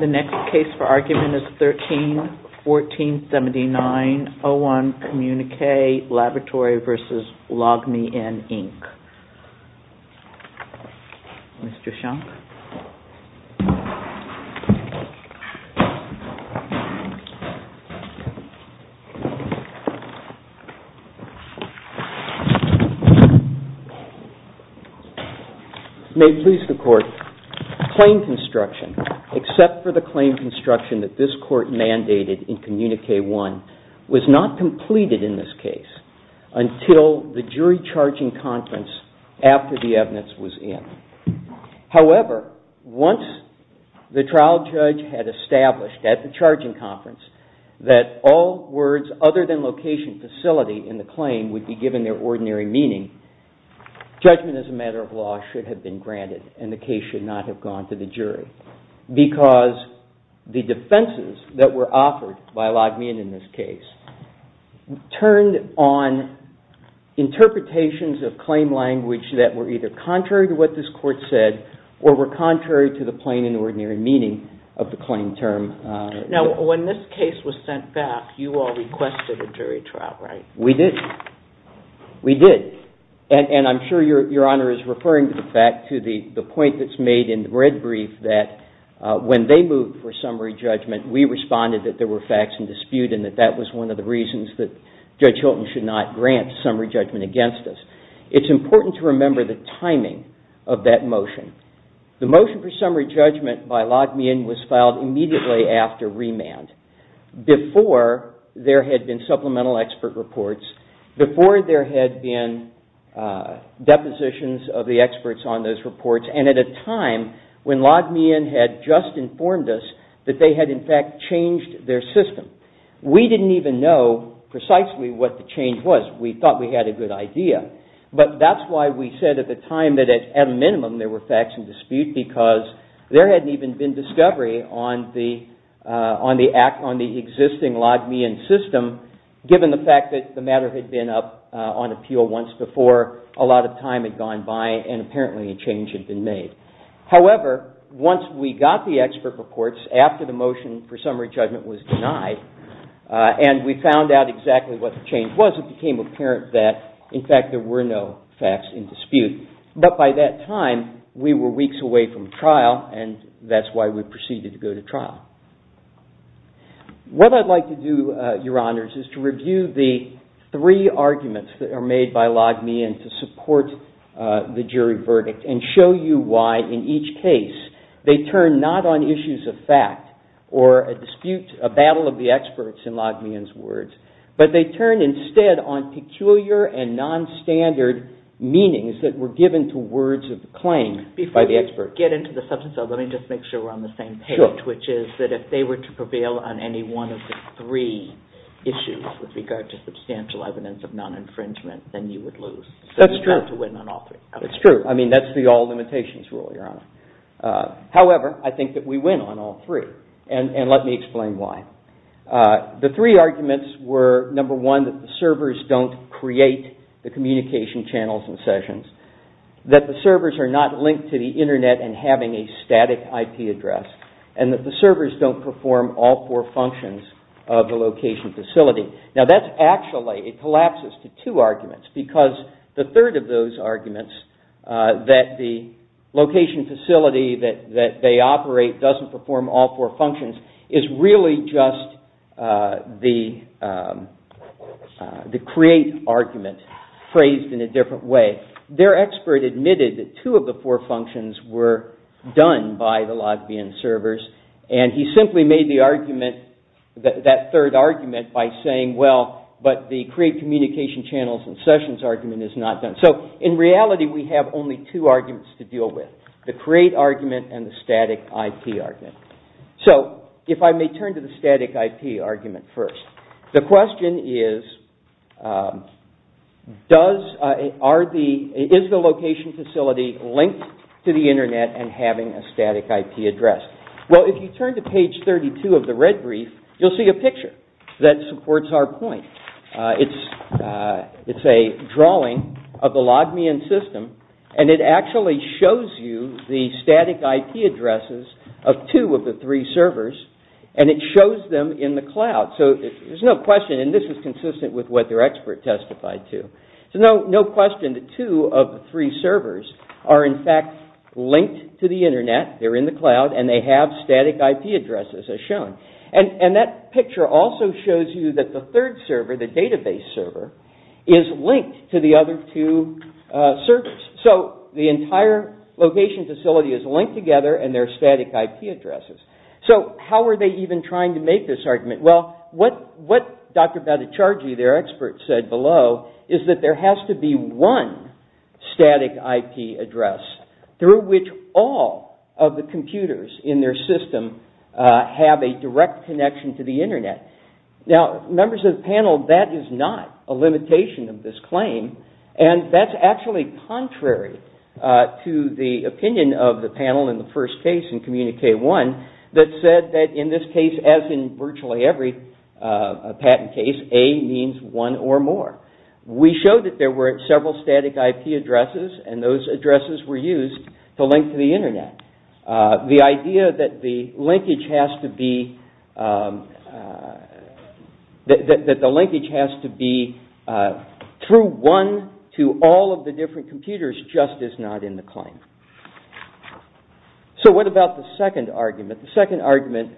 The next case for argument is 13-1479-01 Communique Laboratory v. Logmein, Inc. May it please the Court, claim construction, except for the claim construction that this after the evidence was in. However, once the trial judge had established at the charging conference that all words other than location facility in the claim would be given their ordinary meaning, judgment as a matter of law should have been granted and the case should not have gone to the jury. Because the defenses that were offered by Logmein in this case turned on interpretations of claim language that were either contrary to what this Court said or were contrary to the plain and ordinary meaning of the claim term. Now when this case was sent back, you all requested a jury trial, right? We did. We did. And I'm sure your Honor is referring back to the point that's made in the red brief that when they moved for summary judgment, we responded that there were facts in dispute and that that was one of the reasons that Judge Hilton should not grant summary judgment against us. It's important to remember the timing of that motion. The motion for summary judgment by Logmein was filed immediately after remand, before there had been supplemental expert reports, before there had been depositions of the experts on those reports, and at a time when Logmein had just informed us that they had in fact changed their system. We didn't even know precisely what the change was. We thought we had a good idea. But that's why we said at the time that at a minimum there were facts in dispute because there hadn't even been discovery on the existing Logmein system given the fact that the matter had been up on appeal once before, a lot of time had gone by, and apparently a change had been made. However, once we got the expert reports after the motion for summary judgment was denied and we found out exactly what the change was, it became apparent that in fact there were no facts in dispute. But by that time, we were weeks away from trial, and that's why we proceeded to go to trial. What I'd like to do, Your Honors, is to review the three arguments that are made by Logmein to support the jury verdict and show you why in each case they turn not on issues of fact or a dispute, a battle of the experts in Logmein's words, but they turn instead on peculiar and nonstandard meanings that were given to words of claim by the experts. Let me just make sure we're on the same page, which is that if they were to prevail on any one of the three issues with regard to substantial evidence of non-infringement, then you would lose. That's true. So you have to win on all three. However, I think that we win on all three, and let me explain why. The three arguments were, number one, that the servers don't create the communication channels and sessions, that the servers are not linked to the Internet and having a static IP address, and that the servers don't perform all four functions of the location facility. Now, that's actually, it collapses to two arguments because the third of those arguments, that the location facility that they operate doesn't perform all four functions, is really just the create argument phrased in a different way. Their expert admitted that two of the four functions were done by the Logmein servers, and he simply made that third argument by saying, well, but the create communication channels and sessions argument is not done. So in reality, we have only two arguments to deal with, the create argument and the static IP argument. So if I may turn to the static IP argument first. The question is, is the location facility linked to the Internet and having a static IP address? Well, if you turn to page 32 of the red brief, you'll see a picture that supports our point. It's a drawing of the Logmein system, and it actually shows you the static IP addresses of two of the three servers, and it shows them in the cloud. So there's no question, and this is consistent with what their expert testified to. So no question that two of the three servers are in fact linked to the Internet, they're in the cloud, and they have static IP addresses as shown. And that picture also shows you that the third server, the database server, is linked to the other two servers. So the entire location facility is linked together and there are static IP addresses. So how are they even trying to make this argument? Well, what Dr. Bhattacharjee, their expert, said below is that there has to be one static IP address through which all of the computers in their system have a direct connection to the Internet. Now, members of the panel, that is not a limitation of this claim. And that's actually contrary to the opinion of the panel in the first case in Community K-1 that said that in this case, as in virtually every patent case, A means one or more. We showed that there were several static IP addresses, and those addresses were used to link to the Internet. The idea that the linkage has to be through one to all of the different computers just is not in the claim. So what about the second argument? The second argument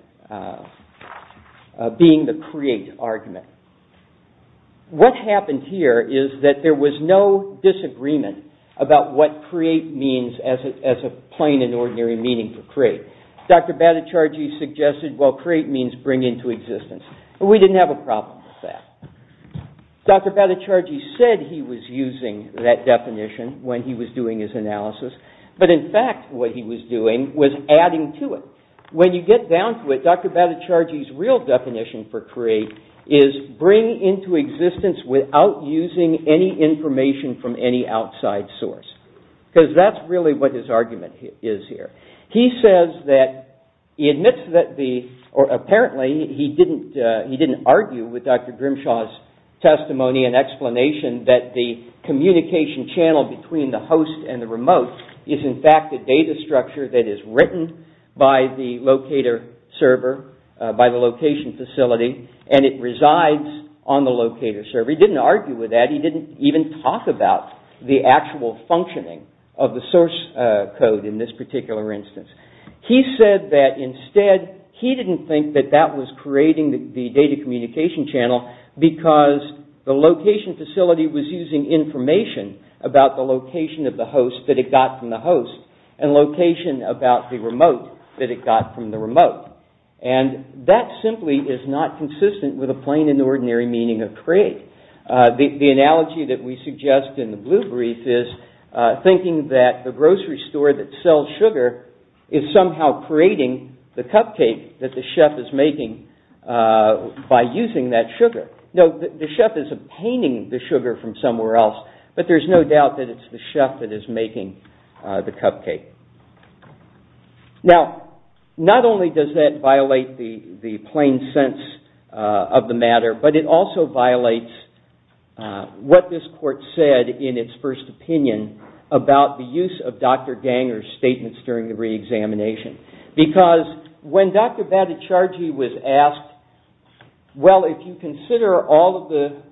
being the create argument. What happened here is that there was no disagreement about what create means as a plain and ordinary meaning for create. Dr. Bhattacharjee suggested, well, create means bring into existence. We didn't have a problem with that. Dr. Bhattacharjee said he was using that definition when he was doing his analysis, but in fact what he was doing was adding to it. When you get down to it, Dr. Bhattacharjee's real definition for create is bring into existence without using any information from any outside source. Because that's really what his argument is here. He says that, he admits that the, or apparently he didn't argue with Dr. Grimshaw's testimony and explanation that the communication channel between the host and the remote is in fact a data structure that is written by the locator server, by the location facility, and it resides on the locator server. He didn't argue with that. He didn't even talk about the actual functioning of the source code in this particular instance. He said that instead, he didn't think that that was creating the data communication channel because the location facility was using information about the location of the host that it got from the host and location about the remote that it got from the remote. And that simply is not consistent with a plain and ordinary meaning of create. The analogy that we suggest in the blue brief is thinking that the grocery store that sells sugar is somehow creating the cupcake that the chef is making by using that sugar. No, the chef is obtaining the sugar from somewhere else, but there's no doubt that it's the chef that is making the cupcake. Now, not only does that violate the plain sense of the matter, but it also violates what this court said in its first opinion about the use of Dr. Ganger's statements during the re-examination. Because when Dr. Bhattacharjee was asked, well, if you consider all of the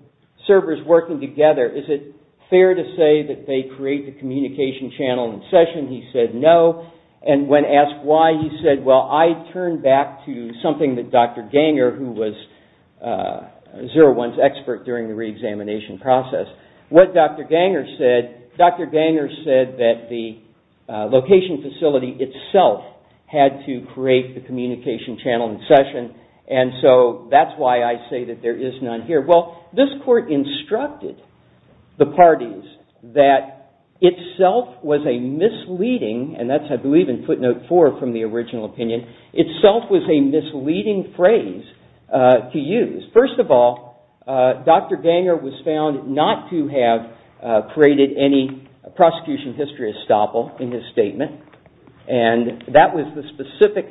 servers working together, is it fair to say that they create the communication channel in session? He said no. And when asked why, he said, well, I turn back to something that Dr. Ganger, who was 01's expert during the re-examination process. What Dr. Ganger said, Dr. Ganger said that the location facility itself had to create the communication channel in session, and so that's why I say that there is none here. Well, this court instructed the parties that itself was a misleading, and that's I believe in footnote four from the original opinion, itself was a misleading phrase to use. First of all, Dr. Ganger was found not to have created any prosecution history estoppel in his statement, and that was the specific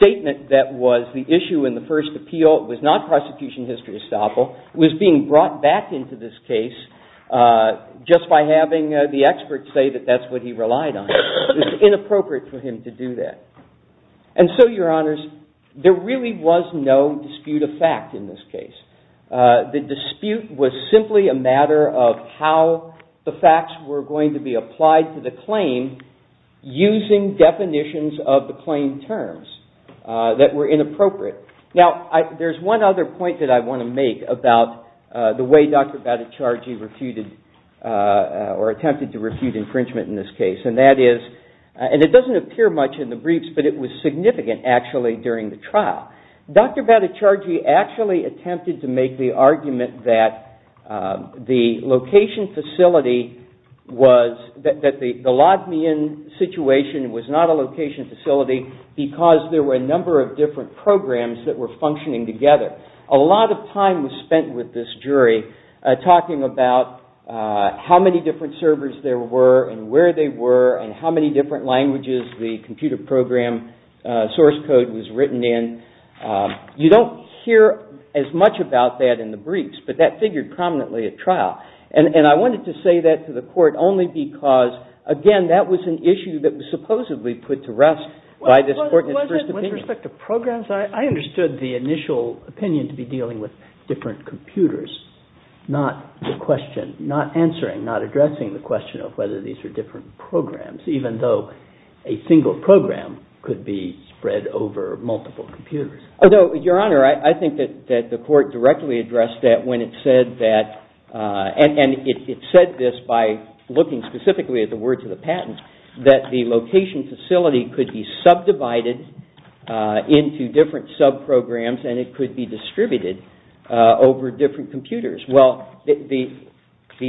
statement that was the issue in the first appeal. It was not prosecution history estoppel. It was being brought back into this case just by having the expert say that that's what he relied on. It was inappropriate for him to do that. And so, your honors, there really was no dispute of fact in this case. The dispute was simply a matter of how the facts were going to be applied to the claim using definitions of the claim terms that were inappropriate. Now, there's one other point that I want to make about the way Dr. Batticiargi refuted or attempted to refute infringement in this case, and that is, and it doesn't appear much in the briefs, but it was significant actually during the trial. Dr. Batticiargi actually attempted to make the argument that the location facility was, that the Ladmian situation was not a location facility because there were a number of different programs that were functioning together. A lot of time was spent with this jury talking about how many different servers there were and where they were and how many different languages the computer program source code was written in. You don't hear as much about that in the briefs, but that figured prominently at trial. And I wanted to say that to the court only because, again, that was an issue that was supposedly put to rest by this court's first opinion. Was it with respect to programs? I understood the initial opinion to be dealing with different computers, not answering, not addressing the question of whether these were different programs, even though a single program could be spread over multiple computers. Although, Your Honor, I think that the court directly addressed that when it said that, and it said this by looking specifically at the words of the patent, that the location facility could be subdivided into different sub-programs and it could be distributed over different computers. Well, the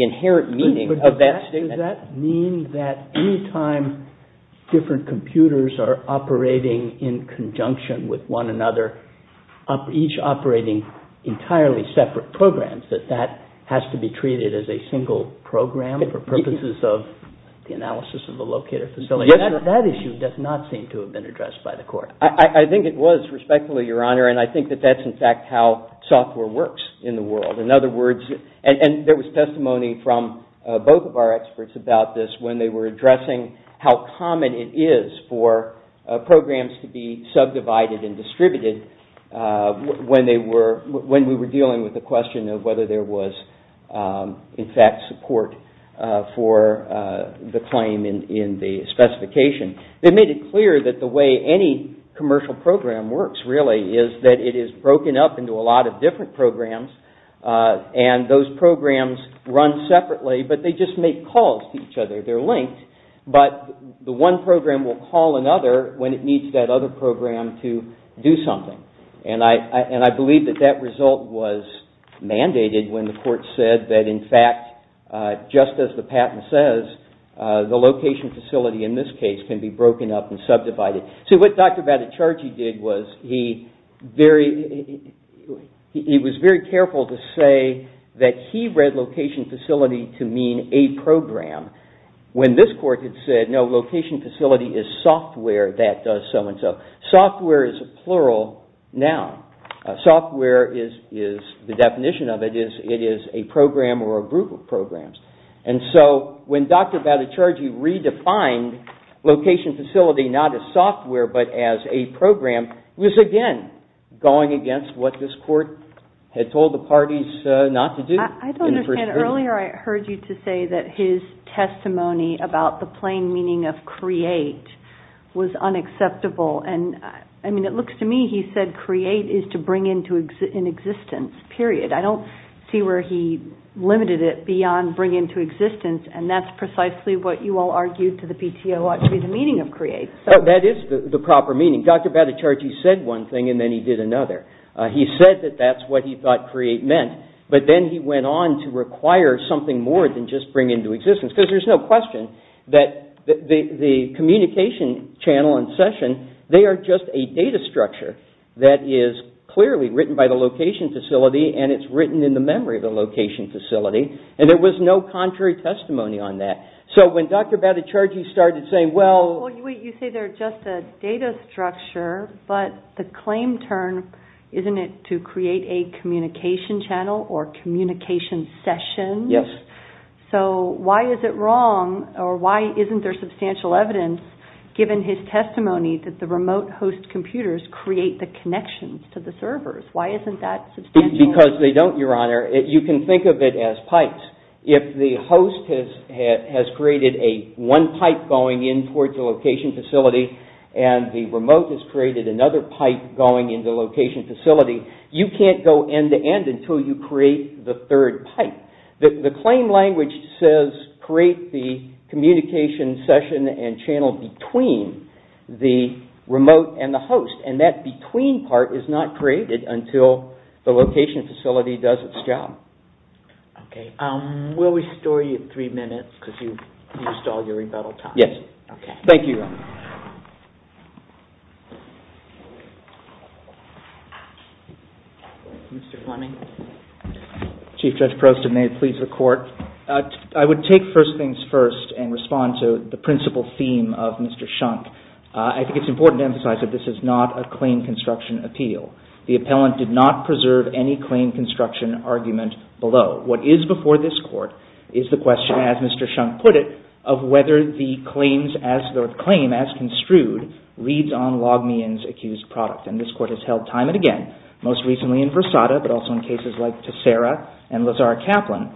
inherent meaning of that statement... But does that mean that any time different computers are operating in conjunction with one another, each operating entirely separate programs, that that has to be treated as a single program for purposes of the analysis of the locator facility? That issue does not seem to have been addressed by the court. I think it was, respectfully, Your Honor, and I think that that's in fact how software works in the world. In other words, and there was testimony from both of our experts about this when they were addressing how common it is for programs to be subdivided and distributed when we were dealing with the question of whether there was, in fact, support for the claim in the specification. They made it clear that the way any commercial program works, really, is that it is broken up into a lot of different programs and those programs run separately, but they just make calls to each other. They're linked, but the one program will call another when it needs that other program to do something. And I believe that that result was mandated when the court said that, in fact, just as the patent says, the location facility, in this case, can be broken up and subdivided. See, what Dr. Baticiargi did was he was very careful to say that he read location facility to mean a program when this court had said, no, location facility is software that does so-and-so. Software is a plural noun. Software is, the definition of it is, it is a program or a group of programs. And so when Dr. Baticiargi redefined location facility not as software but as a program, it was, again, going against what this court had told the parties not to do. I don't understand. Earlier I heard you to say that his testimony about the plain meaning of create was unacceptable. And, I mean, it looks to me he said create is to bring into existence, period. I don't see where he limited it beyond bring into existence, and that's precisely what you all argued to the PTO ought to be the meaning of create. That is the proper meaning. Dr. Baticiargi said one thing and then he did another. He said that that's what he thought create meant, but then he went on to require something more than just bring into existence, because there's no question that the communication channel and session, they are just a data structure that is clearly written by the location facility and it's written in the memory of the location facility, and there was no contrary testimony on that. So when Dr. Baticiargi started saying, well- Well, you say they're just a data structure, but the claim term, isn't it to create a communication channel or communication session? Yes. So why is it wrong or why isn't there substantial evidence given his testimony that the remote host computers create the connections to the servers? Why isn't that substantial? Because they don't, Your Honor. You can think of it as pipes. If the host has created one pipe going in towards the location facility and the remote has created another pipe going into the location facility, you can't go end to end until you create the third pipe. The claim language says create the communication session and channel between the remote and the host, and that between part is not created until the location facility does its job. Okay. We'll restore you three minutes because you've used all your rebuttal time. Yes. Okay. Thank you, Your Honor. Mr. Fleming. Chief Judge Prost, and may it please the Court. I would take first things first and respond to the principal theme of Mr. Shunk. I think it's important to emphasize that this is not a claim construction appeal. The appellant did not preserve any claim construction argument below. What is before this Court is the question, as Mr. Shunk put it, of whether the claims as the claim as construed reads on Logmian's accused product, and this Court has held time and again, most recently in Versada but also in cases like Tessera and Lazar Kaplan,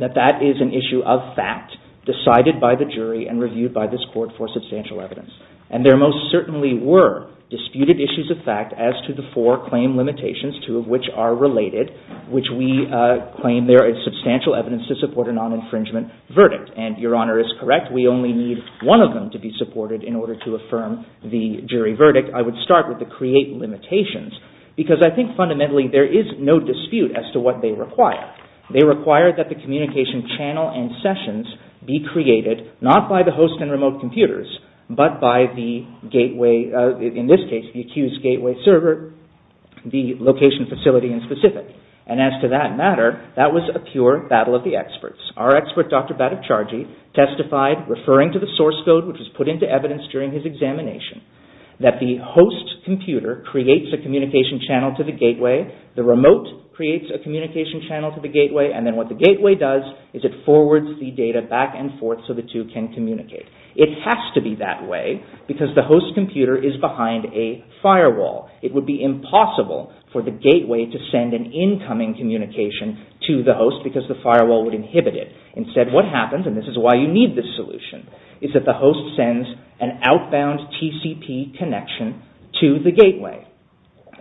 that that is an issue of fact decided by the jury and reviewed by this Court for substantial evidence. And there most certainly were disputed issues of fact as to the four claim limitations, two of which are related, which we claim there is substantial evidence to support a non-infringement verdict. And Your Honor is correct. We only need one of them to be supported in order to affirm the jury verdict. I would start with the create limitations, because I think fundamentally there is no dispute as to what they require. They require that the communication channel and sessions be created not by the host and remote computers, but by the gateway, in this case the accused gateway server, the location facility in specific. And as to that matter, that was a pure battle of the experts. Our expert, Dr. Bhattacharjee, testified, referring to the source code which was put into evidence during his examination, that the host computer creates a communication channel to the gateway, the remote creates a communication channel to the gateway, and then what the gateway does is it forwards the data back and forth so the two can communicate. It has to be that way because the host computer is behind a firewall. It would be impossible for the gateway to send an incoming communication to the host because the firewall would inhibit it. Instead, what happens, and this is why you need this solution, is that the host sends an outbound TCP connection to the gateway.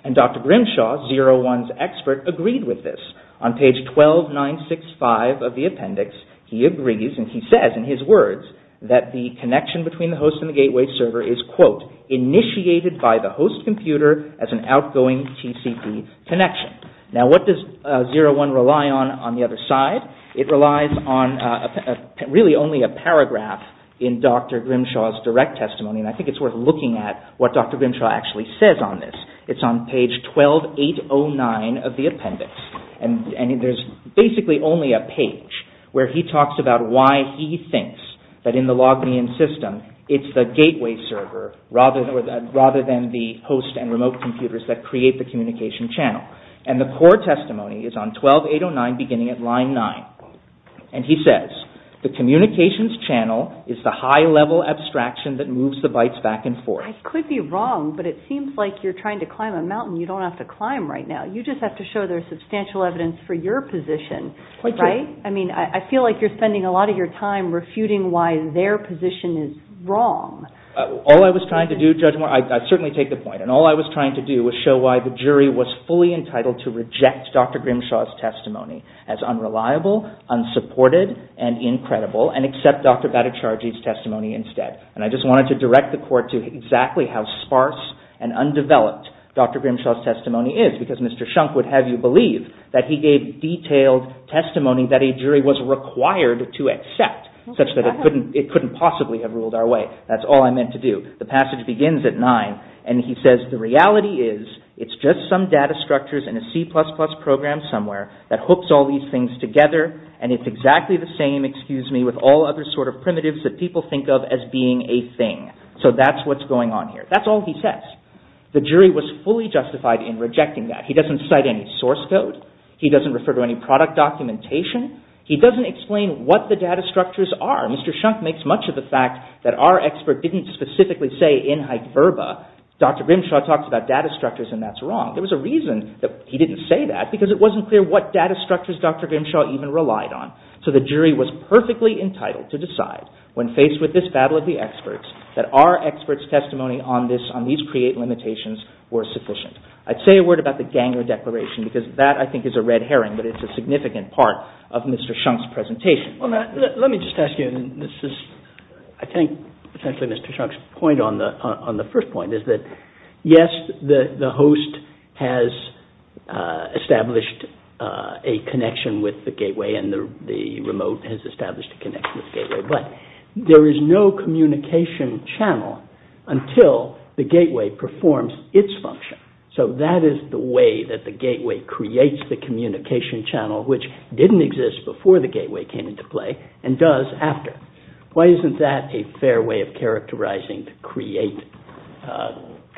And Dr. Grimshaw, ZeroOne's expert, agreed with this. On page 12965 of the appendix, he agrees, and he says in his words, that the connection between the host and the gateway server is, quote, initiated by the host computer as an outgoing TCP connection. Now what does ZeroOne rely on on the other side? It relies on really only a paragraph in Dr. Grimshaw's direct testimony, and I think it's worth looking at what Dr. Grimshaw actually says on this. It's on page 12809 of the appendix, and there's basically only a page where he talks about why he thinks that in the LogMeIn system, it's the gateway server rather than the host and remote computers that create the communication channel. And the core testimony is on 12809 beginning at line 9. And he says, the communications channel is the high-level abstraction that moves the bytes back and forth. I could be wrong, but it seems like you're trying to climb a mountain you don't have to climb right now. You just have to show there's substantial evidence for your position, right? I mean, I feel like you're spending a lot of your time refuting why their position is wrong. All I was trying to do, Judge Moore, I certainly take the point, and all I was trying to do was show why the jury was fully entitled to reject Dr. Grimshaw's testimony as unreliable, unsupported, and incredible, and accept Dr. Baticiargi's testimony instead. And I just wanted to direct the court to exactly how sparse and undeveloped Dr. Grimshaw's testimony is, because Mr. Shunk would have you believe that he gave detailed testimony that a jury was required to accept, such that it couldn't possibly have ruled our way. That's all I meant to do. The passage begins at 9, and he says, the reality is it's just some data structures in a C++ program somewhere that hooks all these things together, and it's exactly the same, excuse me, with all other sort of primitives that people think of as being a thing. So that's what's going on here. That's all he says. The jury was fully justified in rejecting that. He doesn't cite any source code. He doesn't refer to any product documentation. He doesn't explain what the data structures are. Mr. Shunk makes much of the fact that our expert didn't specifically say, in hyperbole, Dr. Grimshaw talked about data structures, and that's wrong. There was a reason that he didn't say that, because it wasn't clear what data structures Dr. Grimshaw even relied on. So the jury was perfectly entitled to decide, when faced with this battle of the experts, that our experts' testimony on these CREATE limitations were sufficient. I'd say a word about the Ganger Declaration, because that, I think, is a red herring, but it's a significant part of Mr. Shunk's presentation. Let me just ask you, and this is, I think, essentially Mr. Shunk's point on the first point, is that, yes, the host has established a connection with the gateway, and the remote has established a connection with the gateway, but there is no communication channel until the gateway performs its function. So that is the way that the gateway creates the communication channel, which didn't exist before the gateway came into play, and does after. Why isn't that a fair way of characterizing the CREATE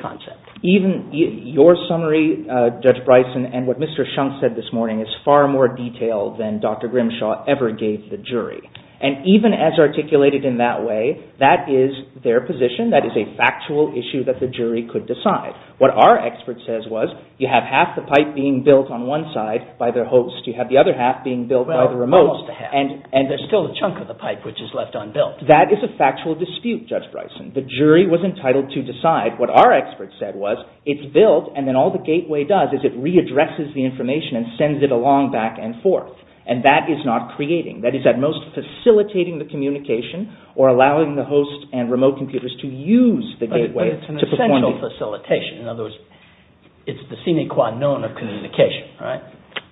concept? Even your summary, Judge Bryson, and what Mr. Shunk said this morning is far more detailed than Dr. Grimshaw ever gave the jury. And even as articulated in that way, that is their position. That is a factual issue that the jury could decide. What our expert says was, you have half the pipe being built on one side by their host, you have the other half being built by the remote, and there's still a chunk of the pipe which is left unbuilt. That is a factual dispute, Judge Bryson. The jury was entitled to decide. What our expert said was, it's built, and then all the gateway does is it readdresses the information and sends it along back and forth. And that is not creating. That is at most facilitating the communication or allowing the host and remote computers to use the gateway. But it's an essential facilitation. In other words, it's the sine qua non of communication, right?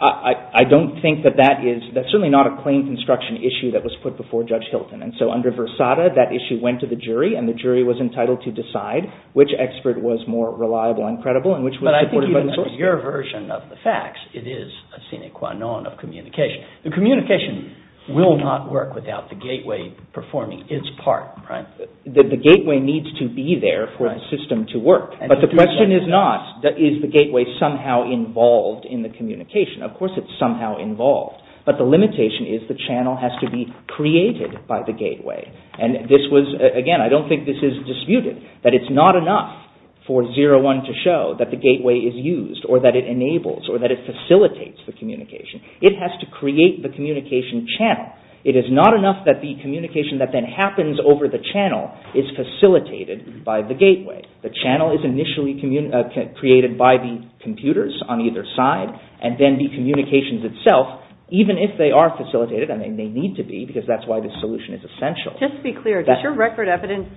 I don't think that that is, that's certainly not a claim construction issue that was put before Judge Hilton. And so under Versada, that issue went to the jury, and the jury was entitled to decide which expert was more reliable and credible and which was supported by the source. But I think even in your version of the facts, it is a sine qua non of communication. The communication will not work without the gateway performing its part, right? The gateway needs to be there for the system to work. But the question is not, is the gateway somehow involved in the communication? Of course it's somehow involved. But the limitation is the channel has to be created by the gateway. And this was, again, I don't think this is disputed, that it's not enough for Zero-One to show that the gateway is used or that it enables or that it facilitates the communication. It has to create the communication channel. It is not enough that the communication that then happens over the channel is facilitated by the gateway. The channel is initially created by the computers on either side, and then the communications itself, even if they are facilitated, and they need to be, because that's why this solution is essential. Just to be clear, does your record evidence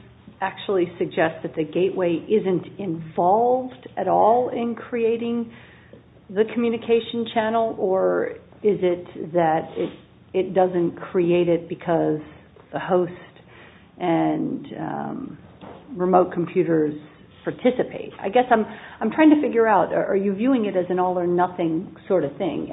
actually suggest that the gateway isn't involved at all in creating the communication channel, or is it that it doesn't create it because the host and remote computers participate? I guess I'm trying to figure out, are you viewing it as an all-or-nothing sort of thing?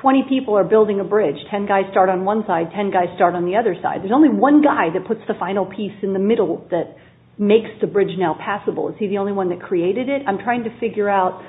Twenty people are building a bridge. Ten guys start on one side, ten guys start on the other side. There's only one guy that puts the final piece in the middle that makes the bridge now passable. Is he the only one that created it? I'm trying to figure out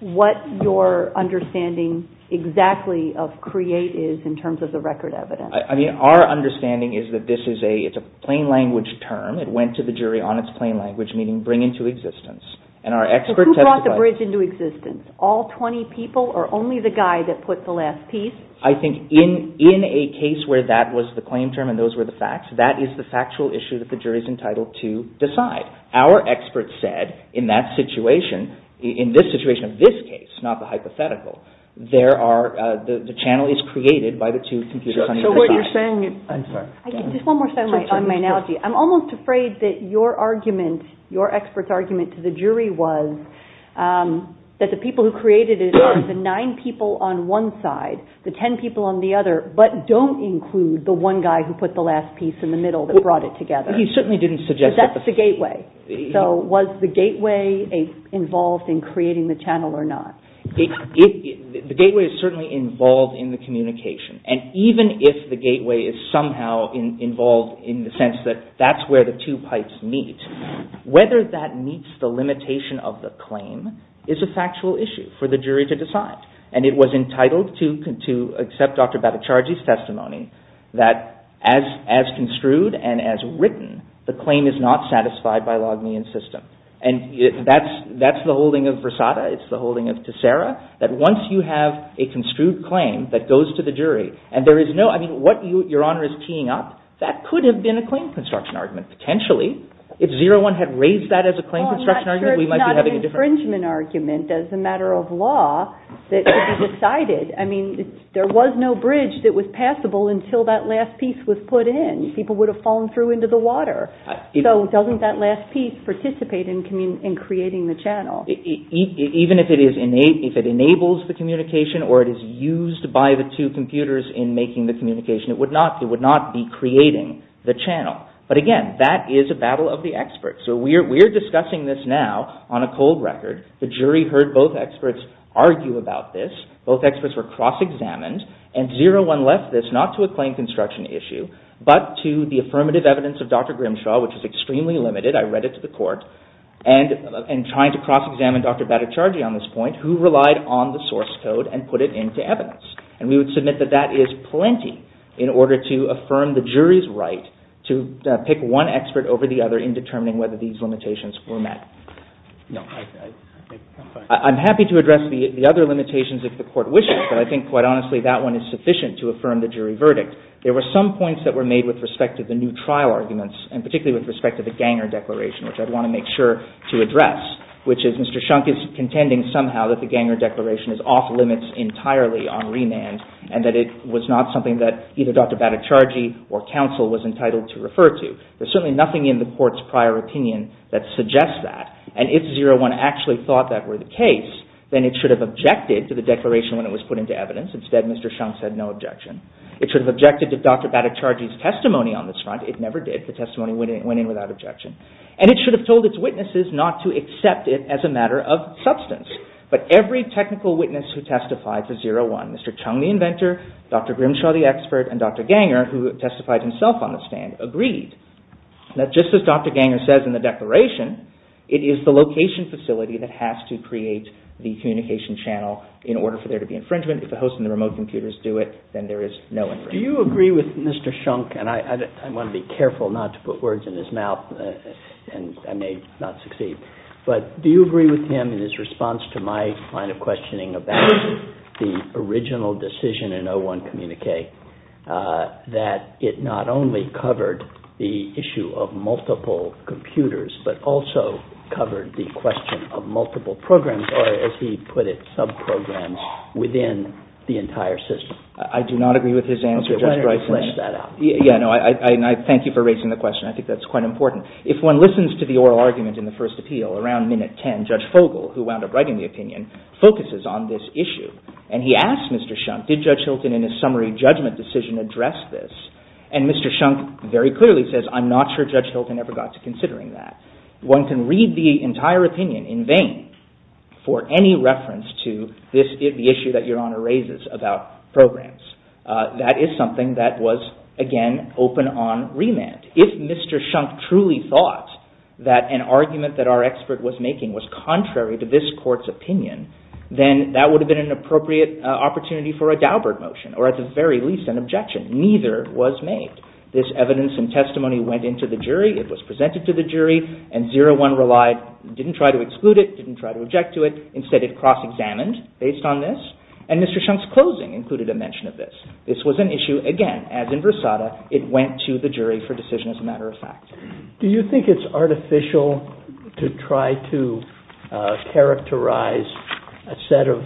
what your understanding exactly of create is in terms of the record evidence. Our understanding is that this is a plain language term. It went to the jury on its plain language, meaning bring into existence. Who brought the bridge into existence? All 20 people or only the guy that put the last piece? I think in a case where that was the claim term and those were the facts, that is the factual issue that the jury is entitled to decide. Our experts said in that situation, in this situation of this case, not the hypothetical, the channel is created by the two computers on either side. So what you're saying is... I'm sorry. Just one more thing on my analogy. I'm almost afraid that your argument, your expert's argument to the jury was that the people who created it are the nine people on one side, the ten people on the other, but don't include the one guy who put the last piece in the middle that brought it together. He certainly didn't suggest that. Because that's the gateway. So was the gateway involved in creating the channel or not? The gateway is certainly involved in the communication. And even if the gateway is somehow involved in the sense that that's where the two pipes meet, whether that meets the limitation of the claim is a factual issue for the jury to decide. And it was entitled to accept Dr. Bhattacharjee's testimony that as construed and as written, the claim is not satisfied by Logmean's system. And that's the holding of Versada. It's the holding of Tessera, that once you have a construed claim that goes to the jury and there is no, I mean, what your Honor is teeing up, that could have been a claim construction argument potentially. If Zero-One had raised that as a claim construction argument, we might be having a different... Well, I'm not sure it's not an infringement argument as a matter of law that could be decided. I mean, there was no bridge that was passable until that last piece was put in. People would have fallen through into the water. So doesn't that last piece participate in creating the channel? Even if it enables the communication or it is used by the two computers in making the communication, it would not be creating the channel. But again, that is a battle of the experts. So we're discussing this now on a cold record. The jury heard both experts argue about this. Both experts were cross-examined. And Zero-One left this not to a claim construction issue but to the affirmative evidence of Dr. Grimshaw, which is extremely limited. I read it to the court. And trying to cross-examine Dr. Bhattacharjee on this point, who relied on the source code and put it into evidence. And we would submit that that is plenty in order to affirm the jury's right to pick one expert over the other in determining whether these limitations were met. I'm happy to address the other limitations if the court wishes, but I think, quite honestly, that one is sufficient to affirm the jury verdict. There were some points that were made with respect to the new trial arguments, and particularly with respect to the Ganger Declaration, which I'd want to make sure to address, which is Mr. Shunk is contending somehow that the Ganger Declaration is off-limits entirely on remand, and that it was not something that either Dr. Bhattacharjee or counsel was entitled to refer to. There's certainly nothing in the court's prior opinion that suggests that. And if Zero-One actually thought that were the case, then it should have objected to the declaration when it was put into evidence. Instead, Mr. Shunk said no objection. It should have objected to Dr. Bhattacharjee's testimony on this front. It never did. The testimony went in without objection. And it should have told its witnesses not to accept it as a matter of substance. But every technical witness who testified to Zero-One, Mr. Chung, the inventor, Dr. Grimshaw, the expert, and Dr. Ganger, who testified himself on this stand, agreed that just as Dr. Ganger says in the declaration, it is the location facility that has to create the communication channel in order for there to be infringement. If the host and the remote computers do it, then there is no infringement. Do you agree with Mr. Shunk, and I want to be careful not to put words in his mouth, and I may not succeed, but do you agree with him in his response to my line of questioning about the original decision in O-1 communique that it not only covered the issue of multiple computers, but also covered the question of multiple programs, or as he put it, sub-programs, within the entire system? I do not agree with his answer, Justice Breyer. Why don't you flesh that out? Yeah, no, I thank you for raising the question. I think that's quite important. If one listens to the oral argument in the first appeal, around minute 10, Judge Fogle, who wound up writing the opinion, focuses on this issue, and he asks Mr. Shunk, did Judge Hilton in his summary judgment decision address this? And Mr. Shunk very clearly says, I'm not sure Judge Hilton ever got to considering that. One can read the entire opinion in vain for any reference to the issue that Your Honor raises about programs. That is something that was, again, open on remand. If Mr. Shunk truly thought that an argument that our expert was making was contrary to this court's opinion, then that would have been an appropriate opportunity for a Daubert motion, or at the very least, an objection. Neither was made. This evidence and testimony went into the jury, it was presented to the jury, and O-1 relied, didn't try to exclude it, didn't try to object to it. Instead, it cross-examined based on this, and Mr. Shunk's closing included a mention of this. This was an issue, again, as in Versada, it went to the jury for decision as a matter of fact. Do you think it's artificial to try to characterize a set of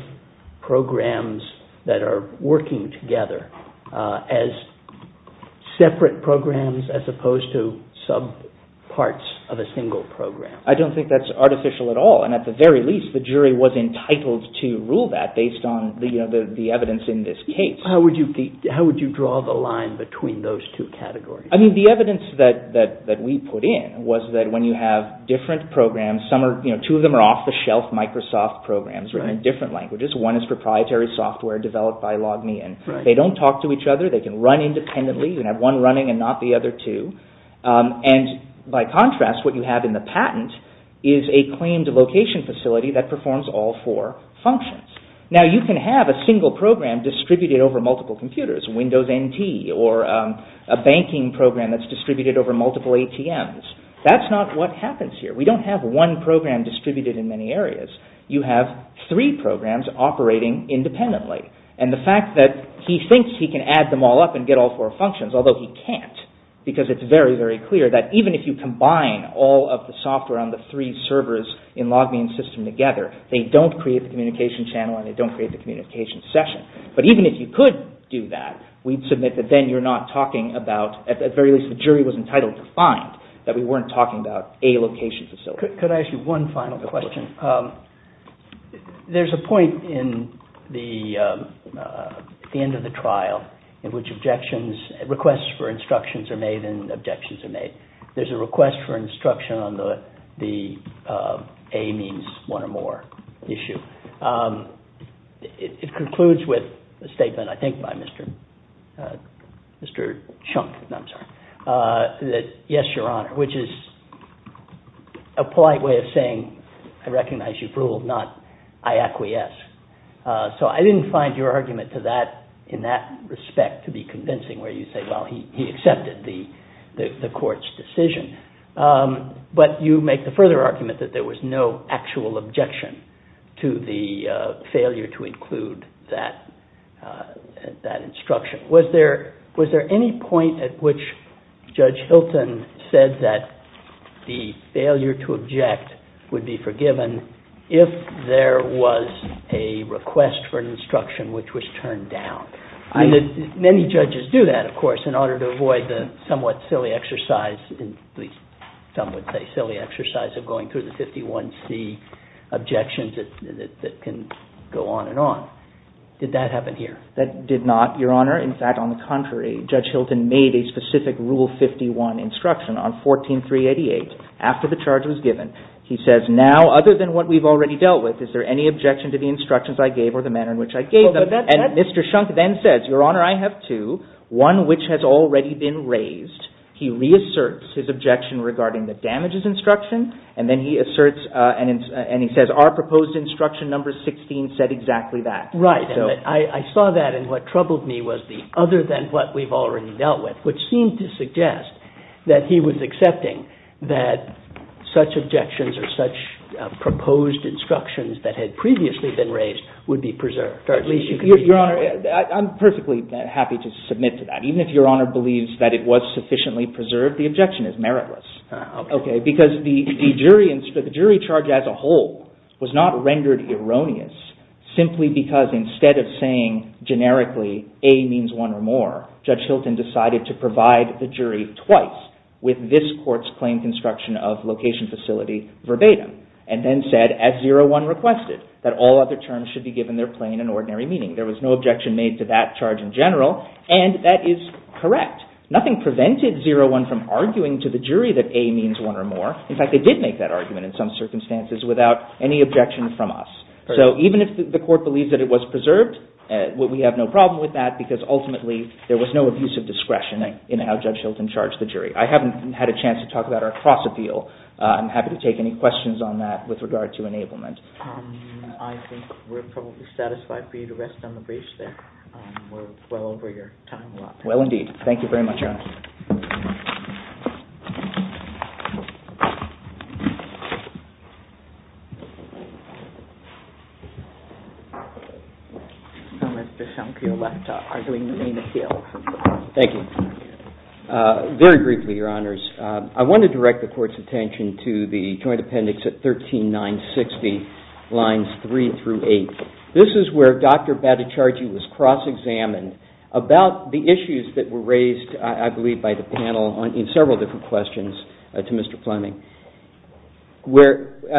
programs that are working together as separate programs as opposed to sub-parts of a single program? I don't think that's artificial at all, and at the very least, the jury was entitled to rule that based on the evidence in this case. How would you draw the line between those two categories? I mean, the evidence that we put in was that when you have different programs, two of them are off-the-shelf Microsoft programs in different languages. One is proprietary software developed by LogMeIn. They don't talk to each other, they can run independently. You can have one running and not the other two. And by contrast, what you have in the patent is a claimed location facility that performs all four functions. Now, you can have a single program distributed over multiple computers, Windows NT, or a banking program that's distributed over multiple ATMs. That's not what happens here. We don't have one program distributed in many areas. You have three programs operating independently. And the fact that he thinks he can add them all up and get all four functions, although he can't, because it's very, very clear that even if you combine all of the software on the three servers in LogMeIn's system together, they don't create the communication channel and they don't create the communication session. But even if you could do that, we'd submit that then you're not talking about, at the very least, the jury was entitled to find that we weren't talking about a location facility. Could I ask you one final question? There's a point at the end of the trial in which requests for instructions are made and objections are made. There's a request for instruction on the A means one or more issue. It concludes with a statement, I think, by Mr. Chunk, that yes, Your Honor, which is a polite way of saying I recognize you've ruled, not I acquiesce. So I didn't find your argument in that respect to be convincing where you say, well, he accepted the court's decision. But you make the further argument that there was no actual objection to the failure to include that instruction. Was there any point at which Judge Hilton said that the failure to object would be forgiven if there was a request for instruction which was turned down? Many judges do that, of course, in order to avoid the somewhat silly exercise, at least some would say silly exercise, of going through the 51C objections that can go on and on. Did that happen here? That did not, Your Honor. In fact, on the contrary, Judge Hilton made a specific Rule 51 instruction on 14388 after the charge was given. He says now, other than what we've already dealt with, is there any objection to the instructions I gave or the manner in which I gave them? And Mr. Shunk then says, Your Honor, I have two, one which has already been raised. He reasserts his objection regarding the damages instruction and then he asserts and he says, our proposed instruction number 16 said exactly that. Right, I saw that and what troubled me was the other than what we've already dealt with, which seemed to suggest that he was accepting that such objections or such proposed instructions that had previously been raised would be preserved. Your Honor, I'm perfectly happy to submit to that. Even if Your Honor believes that it was sufficiently preserved, the objection is meritless. Because the jury charge as a whole was not rendered erroneous simply because instead of saying generically A means one or more, Judge Hilton decided to provide the jury twice with this court's claim construction of location facility verbatim and then said, as 01 requested, that all other terms should be given their plain and ordinary meaning. There was no objection made to that charge in general and that is correct. Nothing prevented 01 from arguing to the jury that A means one or more. In fact, they did make that argument in some circumstances without any objection from us. So even if the court believes that it was preserved, we have no problem with that because ultimately there was no abuse of discretion in how Judge Hilton charged the jury. I haven't had a chance to talk about our cross-appeal. I'm happy to take any questions on that with regard to enablement. I think we're probably satisfied for you to rest on the briefs there. We're well over your time. Well, indeed. Thank you very much, Your Honor. Mr. Schunk, you're left arguing the main appeal. Thank you. Very briefly, Your Honors, I want to direct the court's attention to the joint appendix at 13960, lines 3 through 8. This is where Dr. Baticargi was cross-examined about the issues that were raised, I believe, by the panel in several different questions to Mr. Fleming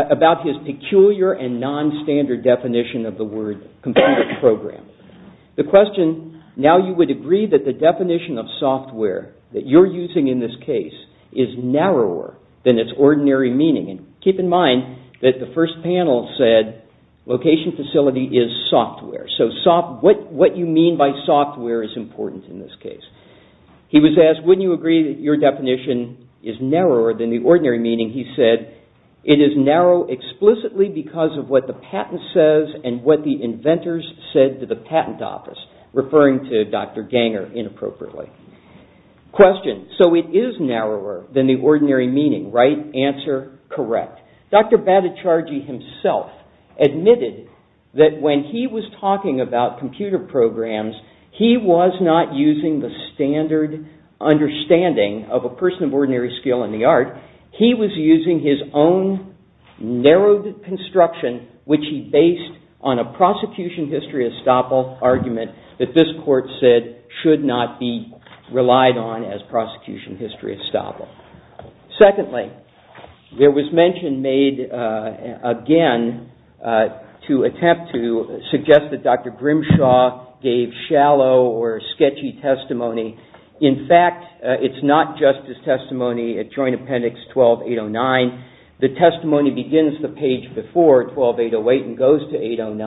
about his peculiar and non-standard definition of the word computer program. The question, now you would agree that the definition of software that you're using in this case is narrower than its ordinary meaning. Keep in mind that the first panel said location facility is software, so what you mean by software is important in this case. He was asked, wouldn't you agree that your definition is narrower than the ordinary meaning? He said, it is narrow explicitly because of what the patent says and what the inventors said to the patent office, referring to Dr. Ganger inappropriately. Question, so it is narrower than the ordinary meaning, right? Answer, correct. Dr. Baticargi himself admitted that when he was talking about computer programs, he was not using the standard understanding of a person of ordinary skill in the art. He was using his own narrowed construction, which he based on a prosecution history estoppel argument that this court said should not be relied on as prosecution history estoppel. Secondly, there was mention made again to attempt to suggest that Dr. Grimshaw gave shallow or sketchy testimony. In fact, it's not just his testimony at Joint Appendix 12-809. The testimony begins the page before 12-808 and goes to 8-09.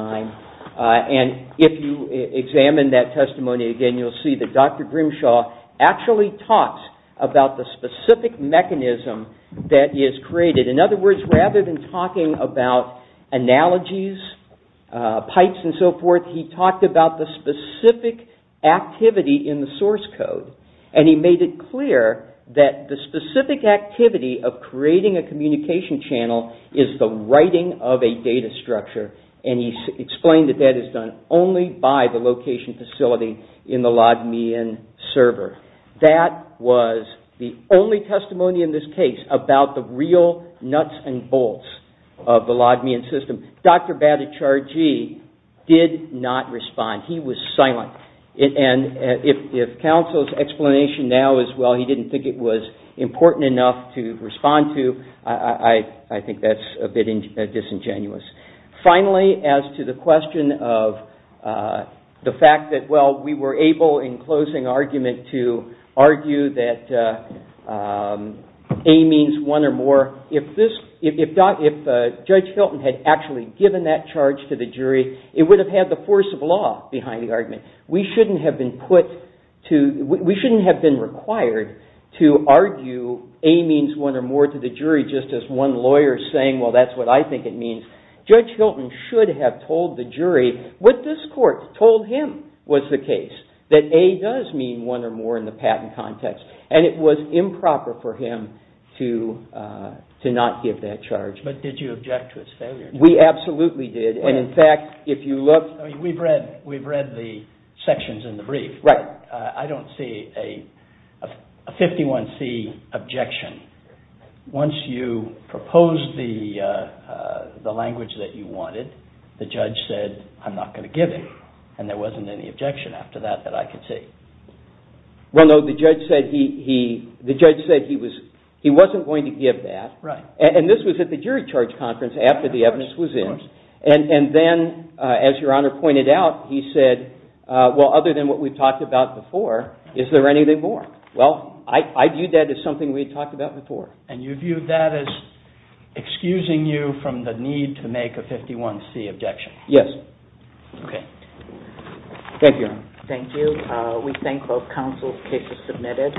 And if you examine that testimony again, you'll see that Dr. Grimshaw actually talks about the specific mechanism that is created. In other words, rather than talking about analogies, pipes and so forth, he talked about the specific activity in the source code. And he made it clear that the specific activity of creating a communication channel is the writing of a data structure. And he explained that that is done only by the location facility in the log me in server. That was the only testimony in this case about the real nuts and bolts of the log me in system. Dr. Bhattacharjee did not respond. He was silent. And if counsel's explanation now is, well, he didn't think it was important enough to respond to, I think that's a bit disingenuous. Finally, as to the question of the fact that, well, we were able, in closing argument, to argue that A means one or more, if Judge Hilton had actually given that charge to the jury, it would have had the force of law behind the argument. We shouldn't have been required to argue A means one or more to the jury just as one lawyer saying, well, that's what I think it means. Judge Hilton should have told the jury what this court told him was the case, that A does mean one or more in the patent context. And it was improper for him to not give that charge. But did you object to his failure? We absolutely did. And in fact, if you look. We've read the sections in the brief. Right. I don't see a 51C objection. Once you propose the language that you wanted, the judge said, I'm not going to give it. And there wasn't any objection after that that I could see. Well, no. The judge said he wasn't going to give that. Right. And this was at the jury charge conference after the evidence was in. Of course. And then, as Your Honor pointed out, he said, well, other than what we've talked about before, is there anything more? Well, I viewed that as something we had talked about before. And you viewed that as excusing you from the need to make a 51C objection. Yes. Thank you, Your Honor. Thank you. We thank both counsels cases submitted.